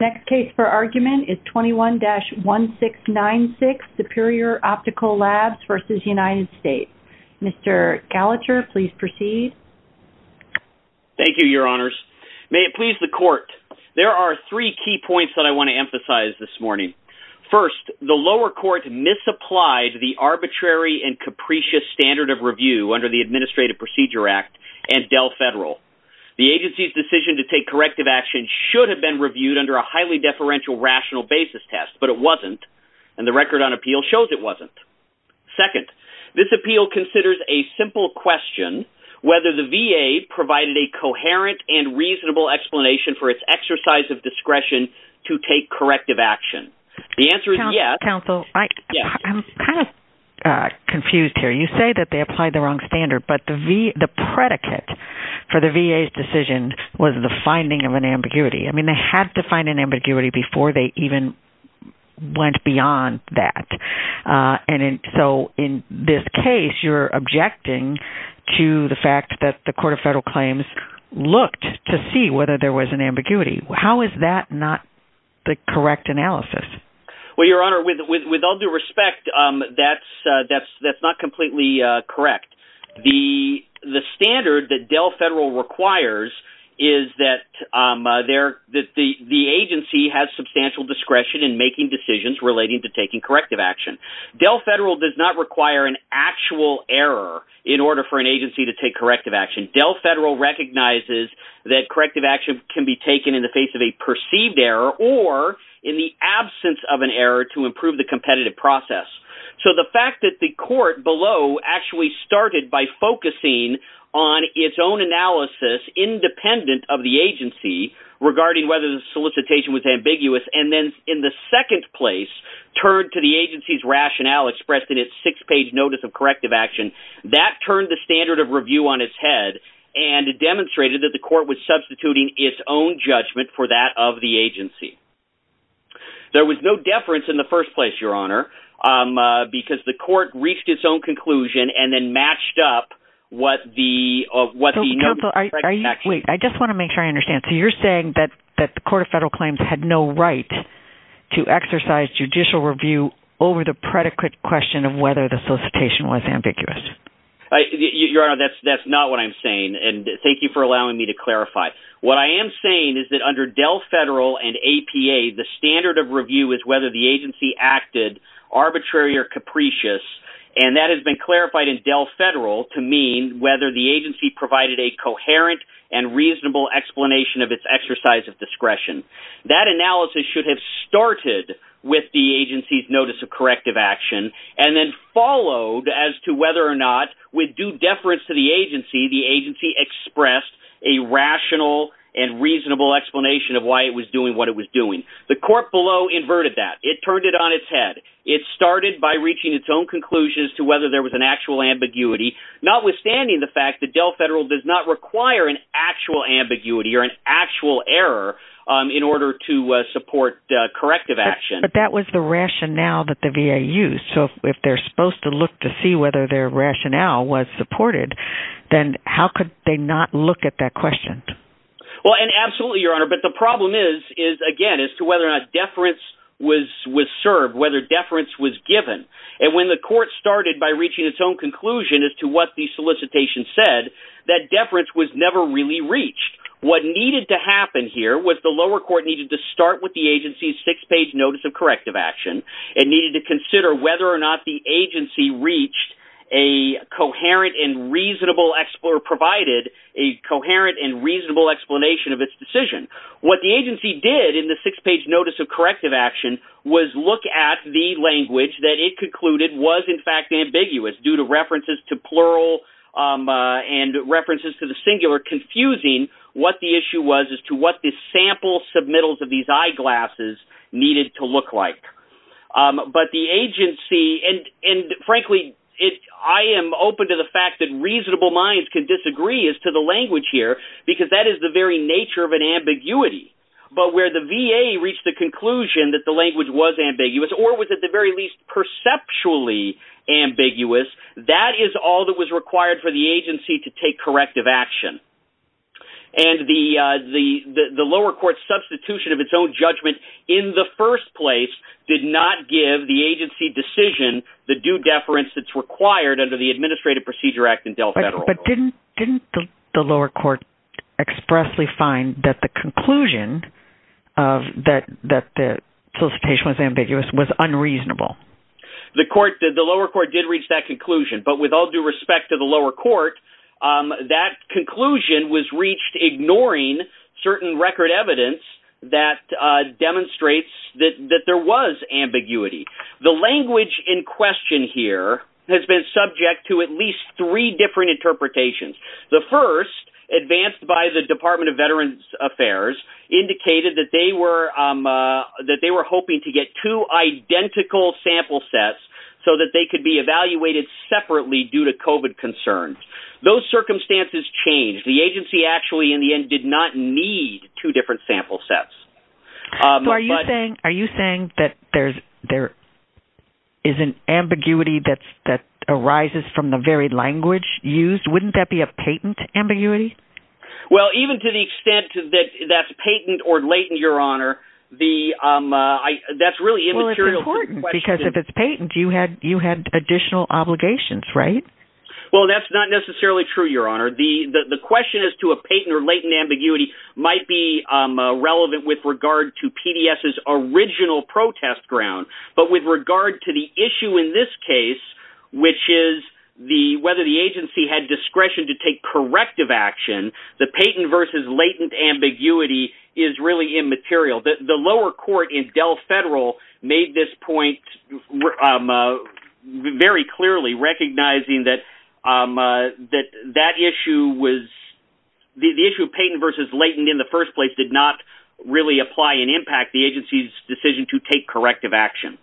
Next case for argument is 21-1696 Superior Optical Labs v. United States. Mr. Gallacher, please proceed. Thank you, Your Honors. May it please the Court, there are three key points that I want to emphasize this morning. First, the lower court misapplied the arbitrary and capricious standard of review under the Administrative Procedure Act and Dell Federal. The agency's decision to take corrective action should have been reviewed under a highly deferential rational basis test, but it wasn't, and the record on appeal shows it wasn't. Second, this appeal considers a simple question whether the VA provided a coherent and reasonable explanation for its exercise of discretion to take corrective action. The answer is yes. Counsel, I'm kind of confused here. You say that they applied the wrong standard, but the predicate for the VA's decision was the and they had to find an ambiguity before they even went beyond that. And so in this case, you're objecting to the fact that the Court of Federal Claims looked to see whether there was an ambiguity. How is that not the correct analysis? Well, Your Honor, with all due respect, that's not completely correct. The standard that the agency has substantial discretion in making decisions relating to taking corrective action. Dell Federal does not require an actual error in order for an agency to take corrective action. Dell Federal recognizes that corrective action can be taken in the face of a perceived error or in the absence of an error to improve the competitive process. So the fact that the court below actually started by focusing on its own analysis independent of the agency regarding whether the solicitation was ambiguous and then in the second place turned to the agency's rationale expressed in its six-page notice of corrective action, that turned the standard of review on its head and it demonstrated that the court was substituting its own judgment for that of the agency. There was no deference in the first place, Your Honor, because the court reached its own conclusion and then matched up what the number of corrective actions Wait, I just want to make sure I understand. So you're saying that the Court of Federal Claims had no right to exercise judicial review over the predicate question of whether the solicitation was ambiguous? Your Honor, that's not what I'm saying and thank you for allowing me to clarify. What I am saying is that under Dell Federal and APA, the standard of review is whether the agency acted arbitrary or capricious and that has been clarified in Dell Federal to mean the agency provided a coherent and reasonable explanation of its exercise of discretion. That analysis should have started with the agency's notice of corrective action and then followed as to whether or not, with due deference to the agency, the agency expressed a rational and reasonable explanation of why it was doing what it was doing. The court below inverted that. It turned it on its head. It started by reaching its own conclusions to whether there was an actual ambiguity, notwithstanding the fact that Dell Federal does not require an actual ambiguity or an actual error in order to support corrective action. But that was the rationale that the VA used. So if they're supposed to look to see whether their rationale was supported, then how could they not look at that question? Well, and absolutely, Your Honor, but the problem is, again, as to whether or not deference was served, whether deference was given, and when the court started by reaching its own conclusion as to what the solicitation said, that deference was never really reached. What needed to happen here was the lower court needed to start with the agency's six-page notice of corrective action. It needed to consider whether or not the agency reached a coherent and reasonable, or provided a coherent and reasonable explanation of its decision. What the agency did in the six-page notice of corrective action was look at the language that it concluded was, in fact, ambiguous due to references to plural and references to the singular, confusing what the issue was as to what the sample submittals of these eyeglasses needed to look like. But the agency, and frankly, I am open to the fact that reasonable minds can disagree as to the language here, because that is the very nature of an ambiguity. But where the VA reached the conclusion that the language was ambiguous, or was at the very least perceptually ambiguous, that is all that was required for the agency to take corrective action. And the lower court's substitution of its own judgment in the first place did not give the agency decision the due deference that's required under the Administrative Procedure Act and DEL Federal. But didn't the lower court expressly find that the conclusion that the solicitation was ambiguous was unreasonable? The lower court did reach that conclusion, but with all due respect to the lower court, that conclusion was reached ignoring certain record evidence that demonstrates that there was ambiguity. The language in question here has been subject to at least three different interpretations. The first, advanced by the Department of Veterans Affairs, indicated that they were hoping to get two identical sample sets so that they could be evaluated separately due to COVID concerns. Those circumstances changed. The agency actually, in the end, did not need two different sample sets. So are you saying that there is an ambiguity that arises from the very language used? Wouldn't that be a patent ambiguity? Well, even to the extent that that's patent or latent, Your Honor, that's really immaterial to the question. Well, it's important, because if it's patent, you had additional obligations, right? Well, that's not necessarily true, Your Honor. The question as to a patent or latent ambiguity might be relevant with regard to PDS's original protest ground, but with regard to the issue in this case, which is whether the agency had discretion to take corrective action, the patent versus latent ambiguity is really immaterial. The lower court in Dell Federal made this point very clearly, recognizing that that issue was, the issue of patent versus latent in the first place did not really apply and impact the agency's decision to take corrective action.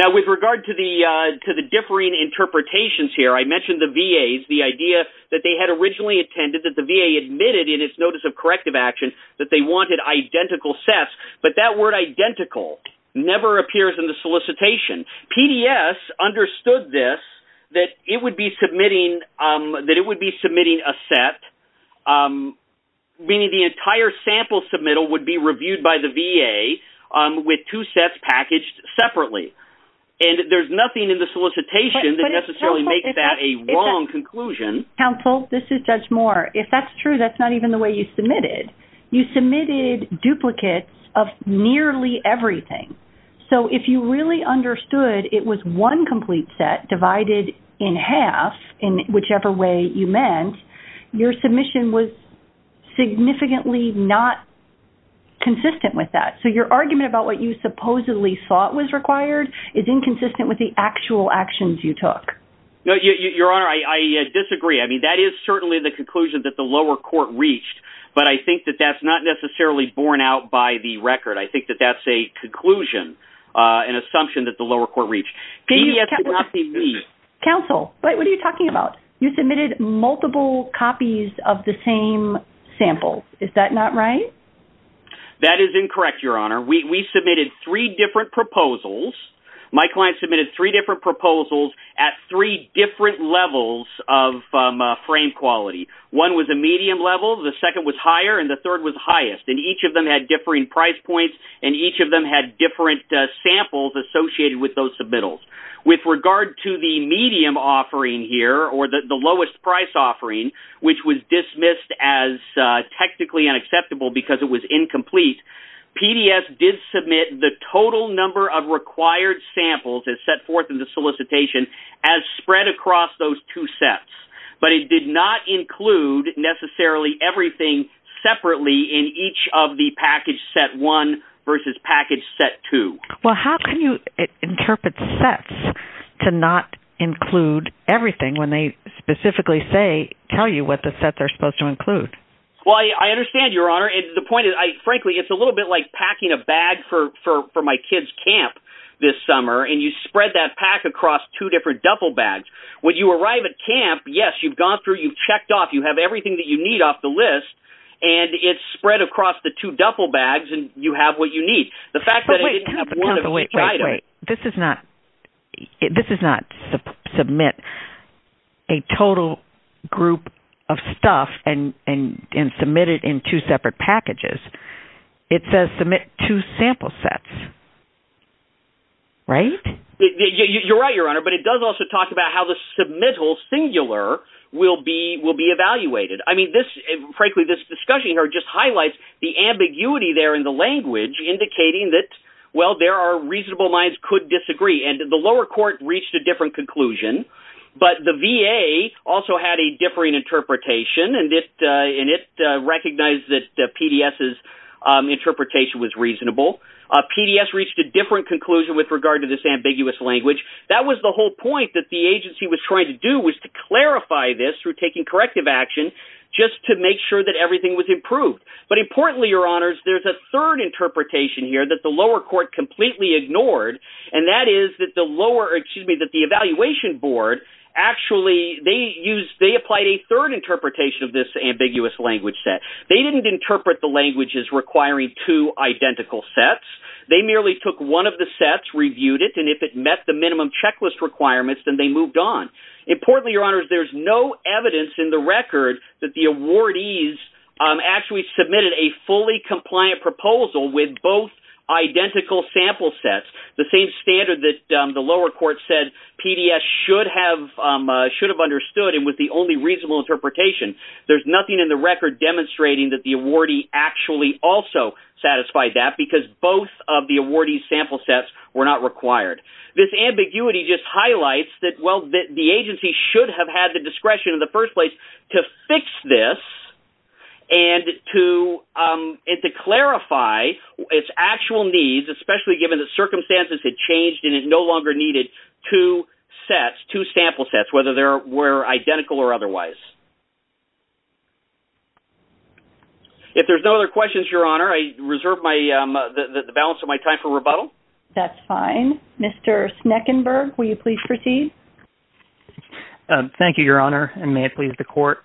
Now, with regard to the differing interpretations here, I mentioned the VA's, the idea that they had originally attended, that the VA admitted in its notice of corrective action that they wanted identical sets, but that word identical never appears in the solicitation. PDS understood this, that it would be submitting a set, meaning the entire sample submittal would be reviewed by the VA with two sets packaged separately. And there's nothing in the solicitation that necessarily makes that a wrong conclusion. Counsel, this is Judge Moore. If that's true, that's not even the way you submitted. You submitted duplicates of nearly everything. So, if you really understood it was one complete set divided in half, in whichever way you meant, your submission was significantly not consistent with that. So, your argument about what you supposedly thought was required is inconsistent with the actual actions you took. No, Your Honor, I disagree. I mean, that is certainly the conclusion that the lower court reached, but I think that that's not necessarily borne out by the record. I think that that's a conclusion, an assumption that the lower court reached. Counsel, what are you talking about? You submitted multiple copies of the same sample. Is that not right? That is incorrect, Your Honor. We submitted three different proposals. My client submitted three different proposals at three different levels of frame quality. One was a medium level, the second was higher, and the third was highest. And each of them had differing price points, and each of them had different samples associated with those submittals. With regard to the medium offering here, or the lowest price offering, which was dismissed as technically unacceptable because it was incomplete, PDS did submit the total number of required samples as set forth in the solicitation as spread across those two sets. But it did not include necessarily everything separately in each of the package set one versus package set two. Well, how can you interpret sets to not include everything when they specifically say, tell you what the sets are supposed to include? Well, I understand, Your Honor. The point is, frankly, it's a little bit like packing a bag for my kid's camp this summer, and you spread that pack across two different duffel bags. When you arrive at camp, yes, you've gone through, you've checked off, you have everything that you need off the list, and it's spread across the two duffel bags, and you have what you need. The fact that it didn't have one of each side of it... Wait, wait, wait. This is not, this is not submit a total group of stuff and submit it in two separate packages. It says submit two sample sets, right? You're right, Your Honor, but it does also talk about how the submittal singular will be evaluated. I mean, this, frankly, this discussion here just highlights the ambiguity there in the language indicating that, well, there are reasonable minds could disagree. And the lower court reached a different conclusion, but the VA also had a differing interpretation, and it recognized that PDS's interpretation was reasonable. PDS reached a different conclusion with regard to this ambiguous language. That was the whole point that the agency was trying to do, was to clarify this through taking corrective action, just to make sure that everything was improved. But importantly, Your Honors, there's a third interpretation here that the lower court completely ignored, and that is that the lower, excuse me, that the evaluation board actually, they used, they applied a third interpretation of this ambiguous language set. They didn't interpret the languages requiring two identical sets. They merely took one of the sets, reviewed it, and if it met the minimum checklist requirements, then they moved on. Importantly, Your Honors, there's no evidence in the record that the awardees actually submitted a fully compliant proposal with both identical sample sets, the same standard that the lower court said PDS should have understood and was the only reasonable interpretation. There's nothing in the record demonstrating that the awardee actually also satisfied that, because both of the awardee's sample sets were not required. This ambiguity just highlights that, well, the agency should have had the discretion in the first place to fix this and to clarify its actual needs, especially given the circumstances had changed and it no longer needed two sets, two sample sets, whether they were identical or otherwise. If there's no other questions, Your Honor, I reserve the balance of my time for rebuttal. That's fine. Mr. Sneckenberg, will you please proceed? Thank you, Your Honor, and may it please the court.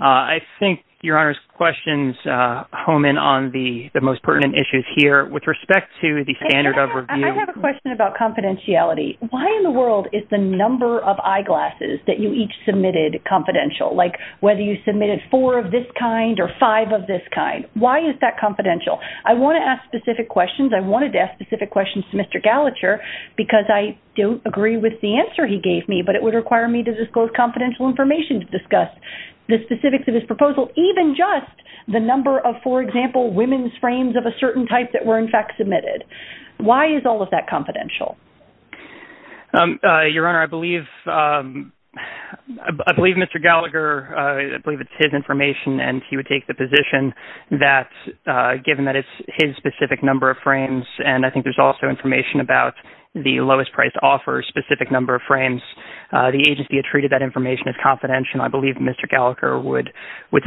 I think Your Honor's questions home in on the most pertinent issues here with respect to the standard of review. I have a question about confidentiality. Why in the world is the number of eyeglasses that you each submitted confidential, like whether you submitted four of this kind or five of this kind? Why is that confidential? I want to ask specific questions. I wanted to ask specific questions to Mr. Gallacher, because I don't agree with the answer he gave me, but it would require me to disclose confidential information to discuss the specifics of his example, women's frames of a certain type that were in fact submitted. Why is all of that confidential? Your Honor, I believe Mr. Gallacher, I believe it's his information, and he would take the position that given that it's his specific number of frames, and I think there's also information about the lowest price offer specific number of frames, the agency had treated that information as confidential. I believe Mr. Gallacher would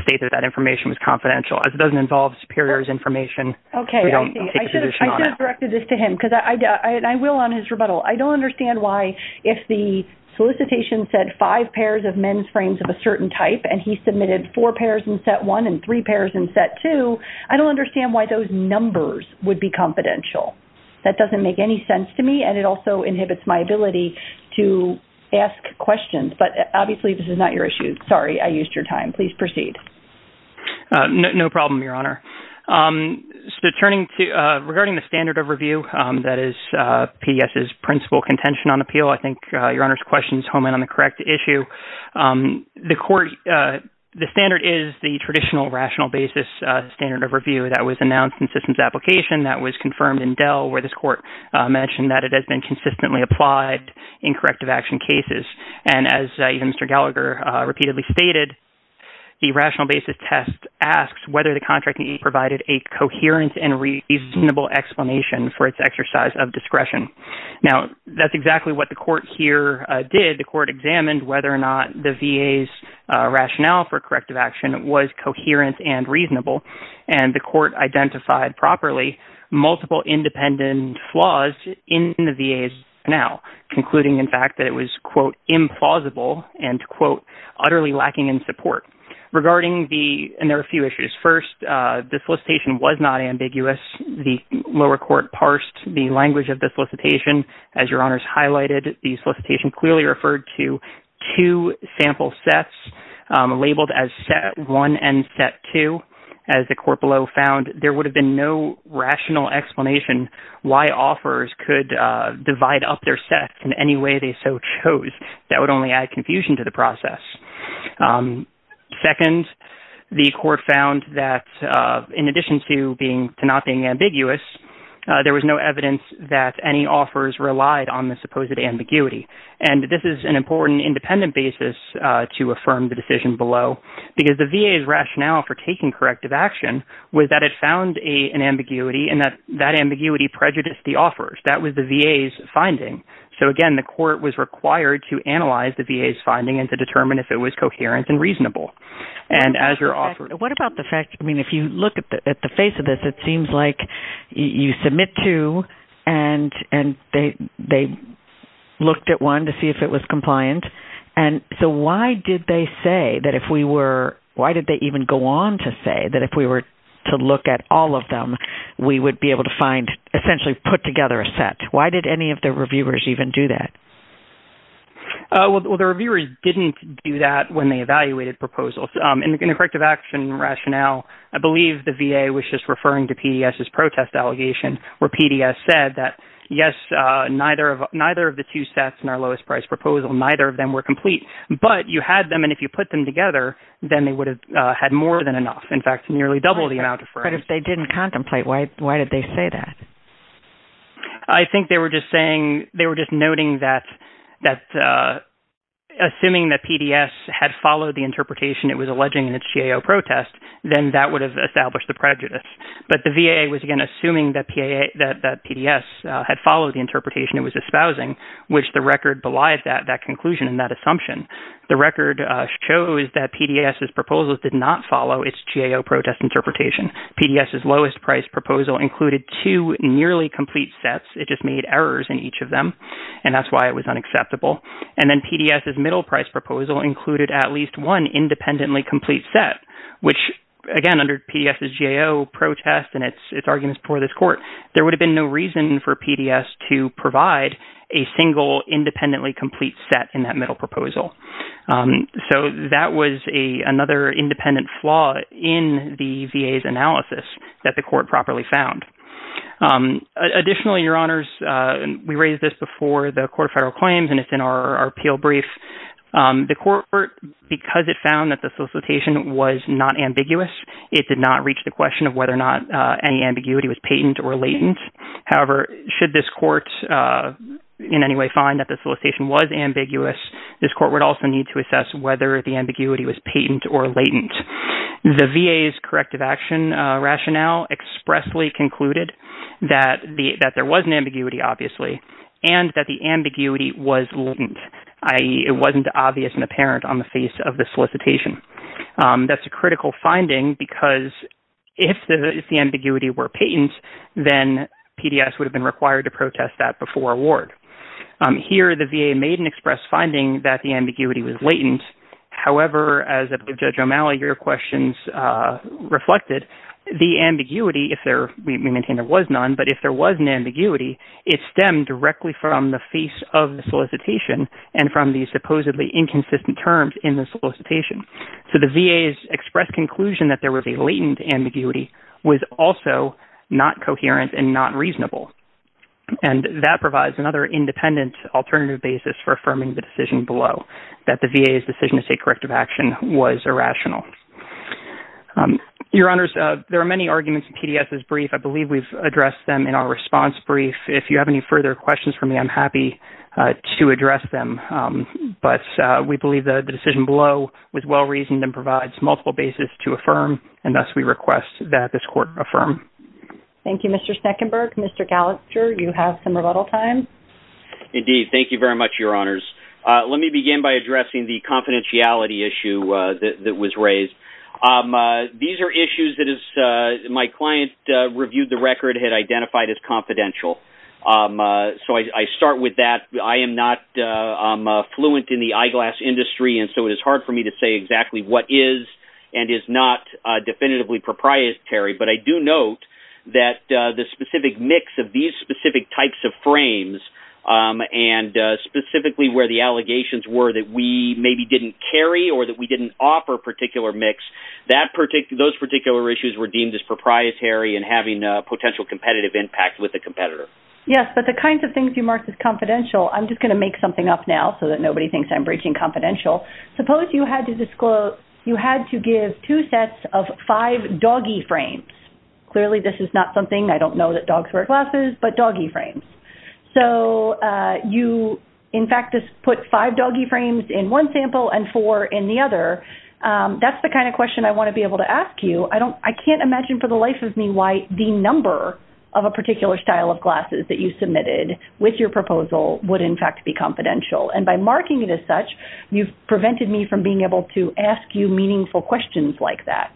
state that that information was confidential. As it doesn't involve superiors' information, we don't take a position on it. Okay. I should have directed this to him, and I will on his rebuttal. I don't understand why if the solicitation said five pairs of men's frames of a certain type, and he submitted four pairs in set one and three pairs in set two, I don't understand why those numbers would be confidential. That doesn't make any sense to me, and it also inhibits my ability to ask questions. But obviously, this is not your issue. Sorry, I used your time. Please proceed. No problem, Your Honor. Regarding the standard of review that is PDS's principal contention on appeal, I think Your Honor's question is homing on the correct issue. The standard is the traditional rational basis standard of review that was announced in systems application that was confirmed in Dell, where this court mentioned that it has been consistently applied in corrective action cases. And as even Mr. Gallagher repeatedly stated, the rational basis test asks whether the contract provided a coherent and reasonable explanation for its exercise of discretion. Now, that's exactly what the court here did. The court examined whether or not the VA's rationale for corrective action was coherent and reasonable, and the including, in fact, that it was, quote, implausible and, quote, utterly lacking in support. Regarding the-and there are a few issues. First, the solicitation was not ambiguous. The lower court parsed the language of the solicitation. As Your Honor's highlighted, the solicitation clearly referred to two sample sets labeled as set one and set two. As the court below found, there would have been no rational explanation why offerors could divide up their sets in any way they so chose. That would only add confusion to the process. Second, the court found that in addition to being-to not being ambiguous, there was no evidence that any offerors relied on the supposed ambiguity. And this is an important independent basis to affirm the decision below because the VA's rationale for taking corrective action was that it found an ambiguity and that that ambiguity prejudiced the offerors. That was the VA's finding. So, again, the court was required to analyze the VA's finding and to determine if it was coherent and reasonable. And as your offer- What about the fact-I mean, if you look at the face of this, it seems like you submit two and they looked at one to see if it was compliant. And so, why did they say that if we were-why did they even go on to say that if we were to look at all of them, we would be able to find-essentially put together a set? Why did any of the reviewers even do that? Well, the reviewers didn't do that when they evaluated proposals. In the corrective action rationale, I believe the VA was just referring to PDS's protest allegation where PDS said that, yes, neither of the two sets in our lowest price proposal, neither of them were complete, but you had them and if you put them together, then they would have had more than enough. In other words, they didn't contemplate. Why did they say that? I think they were just saying-they were just noting that assuming that PDS had followed the interpretation it was alleging in its GAO protest, then that would have established the prejudice. But the VA was, again, assuming that PDS had followed the interpretation it was espousing, which the record belies that conclusion and that assumption. The record shows that PDS's protest interpretation. PDS's lowest price proposal included two nearly complete sets. It just made errors in each of them and that's why it was unacceptable. And then PDS's middle price proposal included at least one independently complete set, which again under PDS's GAO protest and its arguments before this court, there would have been no reason for PDS to provide a single independently complete set in that middle proposal. So that was another independent flaw in the VA's analysis that the court properly found. Additionally, Your Honors, we raised this before the Court of Federal Claims and it's in our appeal brief. The court, because it found that the solicitation was not ambiguous, it did not reach the question of whether or not any ambiguity was patent or latent. However, should this court in any way find that the solicitation was ambiguous, this court would also need to assess whether the ambiguity was patent or latent. The VA's corrective action rationale expressly concluded that there was an ambiguity, obviously, and that the ambiguity was latent, i.e. it wasn't obvious and apparent on the face of the solicitation. That's a critical finding because if the ambiguity were patent, then PDS would have been required to protest that before award. Here, the VA made an express finding that the ambiguity was latent. However, as Judge O'Malley, your questions reflected, the ambiguity, we maintain there was none, but if there was an ambiguity, it stemmed directly from the face of the solicitation and from the supposedly inconsistent terms in the solicitation. So, the VA's expressed conclusion that there was a latent ambiguity was also not coherent and not reasonable. That provides another independent alternative basis for affirming the decision below that the VA's decision to take corrective action was irrational. Your Honors, there are many arguments in PDS's brief. I believe we've addressed them in our response brief. If you have any further questions for me, I'm happy to address them, but we believe that the decision below was well-reasoned and provides multiple basis to affirm, and thus we request that this Court affirm. Thank you, Mr. Schneckenberg. Mr. Gallagher, you have some rebuttal time. Indeed. Thank you very much, your Honors. Let me begin by addressing the confidentiality issue that was raised. These are issues that my client reviewed the record and had identified as confidential. So, I start with that. I am not fluent in the eyeglass industry, and so it is hard for me to say exactly what is and is not definitively proprietary, but I do note that the specific mix of these specific types of frames, and specifically where the allegations were that we maybe didn't carry or that we didn't offer a particular mix, those particular issues were deemed as proprietary and having a potential competitive impact with the competitor. Yes, but the kinds of things you marked as confidential, I'm just going to make something up now so that nobody thinks I'm breaching confidential. Suppose you had to disclose, you had to give two sets of five doggie frames. Clearly, this is not something, I don't know that dogs wear glasses, but doggie frames in one sample and four in the other. That's the kind of question I want to be able to ask you. I don't, I can't imagine for the life of me why the number of a particular style of glasses that you submitted with your proposal would, in fact, be confidential. And by marking it as such, you've prevented me from being able to ask you meaningful questions like that.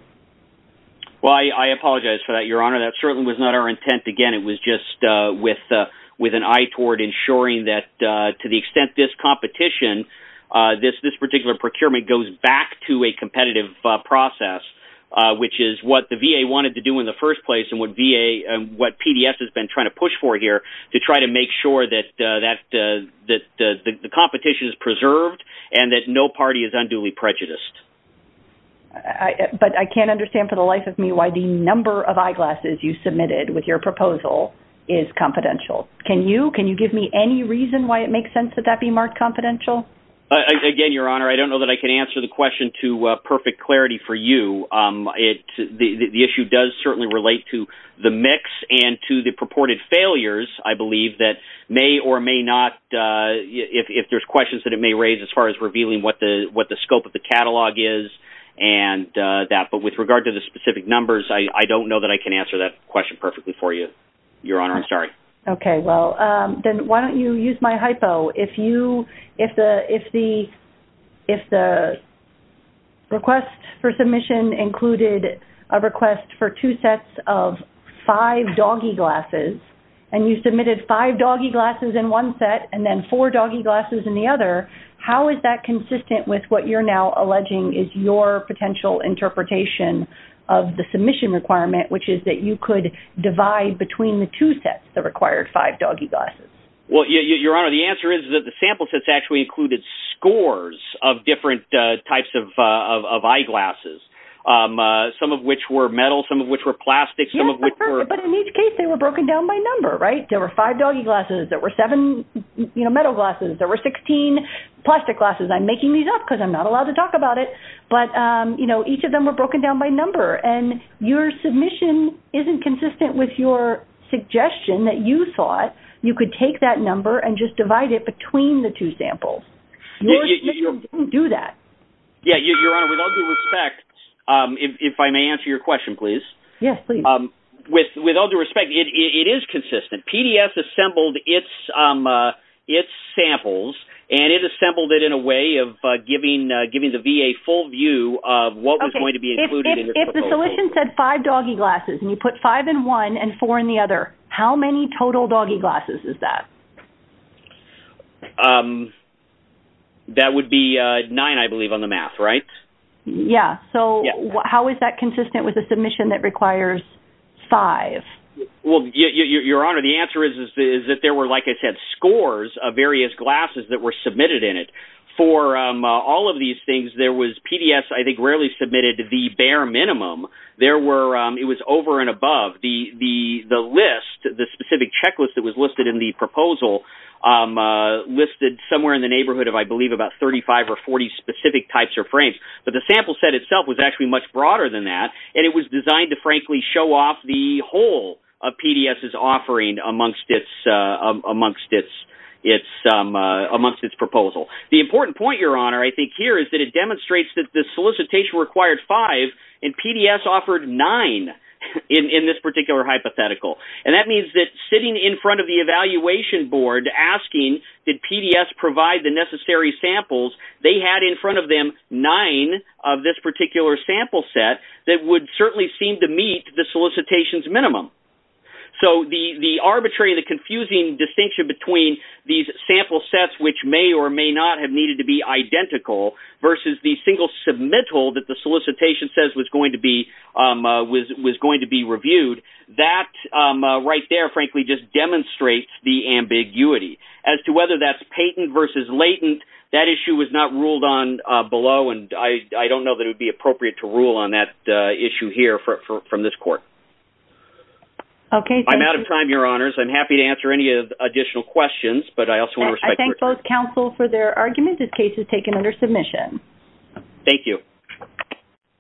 Well, I apologize for that, your Honor. That certainly was not our intent. Again, it was just with an eye toward ensuring that to the extent this competition, this particular procurement goes back to a competitive process, which is what the VA wanted to do in the first place and what VA, and what PDS has been trying to push for here to try to make sure that the competition is preserved and that no party is unduly prejudiced. But I can't understand for the life of me why the number of eyeglasses you submitted with your proposal is confidential. Can you give me any reason why it makes sense that that be marked confidential? Again, your Honor, I don't know that I can answer the question to perfect clarity for you. The issue does certainly relate to the mix and to the purported failures, I believe that may or may not, if there's questions that it may raise as far as revealing what the scope of the catalog is and that. But with regard to the I don't know that I can answer that question perfectly for you, your Honor. I'm sorry. Okay. Well, then why don't you use my hypo? If the request for submission included a request for two sets of five doggy glasses and you submitted five doggy glasses in one set and then four doggy glasses in the other, how is that consistent with what you're now alleging is your potential interpretation of the submission requirement, which is that you could divide between the two sets, the required five doggy glasses? Well, your Honor, the answer is that the sample sets actually included scores of different types of eyeglasses, some of which were metal, some of which were plastic, some of which were... But in each case, they were broken down by number, right? There were five doggy glasses, there were seven metal glasses, there were 16 plastic glasses. I'm making these up because I'm not allowed to talk about it. But each of them were broken down by number and your submission isn't consistent with your suggestion that you thought you could take that number and just divide it between the two samples. Your submission didn't do that. Yeah, your Honor, with all due respect, if I may answer your question, please. Yes, please. With all due respect, it is consistent. PDS assembled its samples and it assembled it in a way of giving the VA full view of what was going to be included in the proposal. If the solution said five doggy glasses and you put five in one and four in the other, how many total doggy glasses is that? That would be nine, I believe, on the math, right? Yeah. So how is that consistent with a submission that requires five? Well, your Honor, the answer is that there were, like I said, scores of various glasses that were submitted in it. For all of these things, there was... PDS, I think, rarely submitted the bare minimum. It was over and above. The list, the specific checklist that was listed in the proposal was listed somewhere in the neighborhood of, I believe, about 35 or 40 specific types or frames. But the sample set itself was actually much broader than that. And it was designed to, frankly, show off the whole of PDS's offering amongst its proposal. The important point, your Honor, I think here is that it demonstrates that the solicitation required five and PDS offered nine in this particular hypothetical. And that means that in front of the evaluation board asking, did PDS provide the necessary samples, they had in front of them nine of this particular sample set that would certainly seem to meet the solicitation's minimum. So the arbitrary, the confusing distinction between these sample sets, which may or may not have needed to be identical versus the single submittal that the solicitation says was going to be reviewed, that right there, frankly, just demonstrates the ambiguity. As to whether that's patent versus latent, that issue was not ruled on below. And I don't know that it would be appropriate to rule on that issue here from this court. I'm out of time, your Honors. I'm happy to answer any additional questions, but I also want to respect your time. I thank both counsel for their argument. This case is taken under submission. Thank you.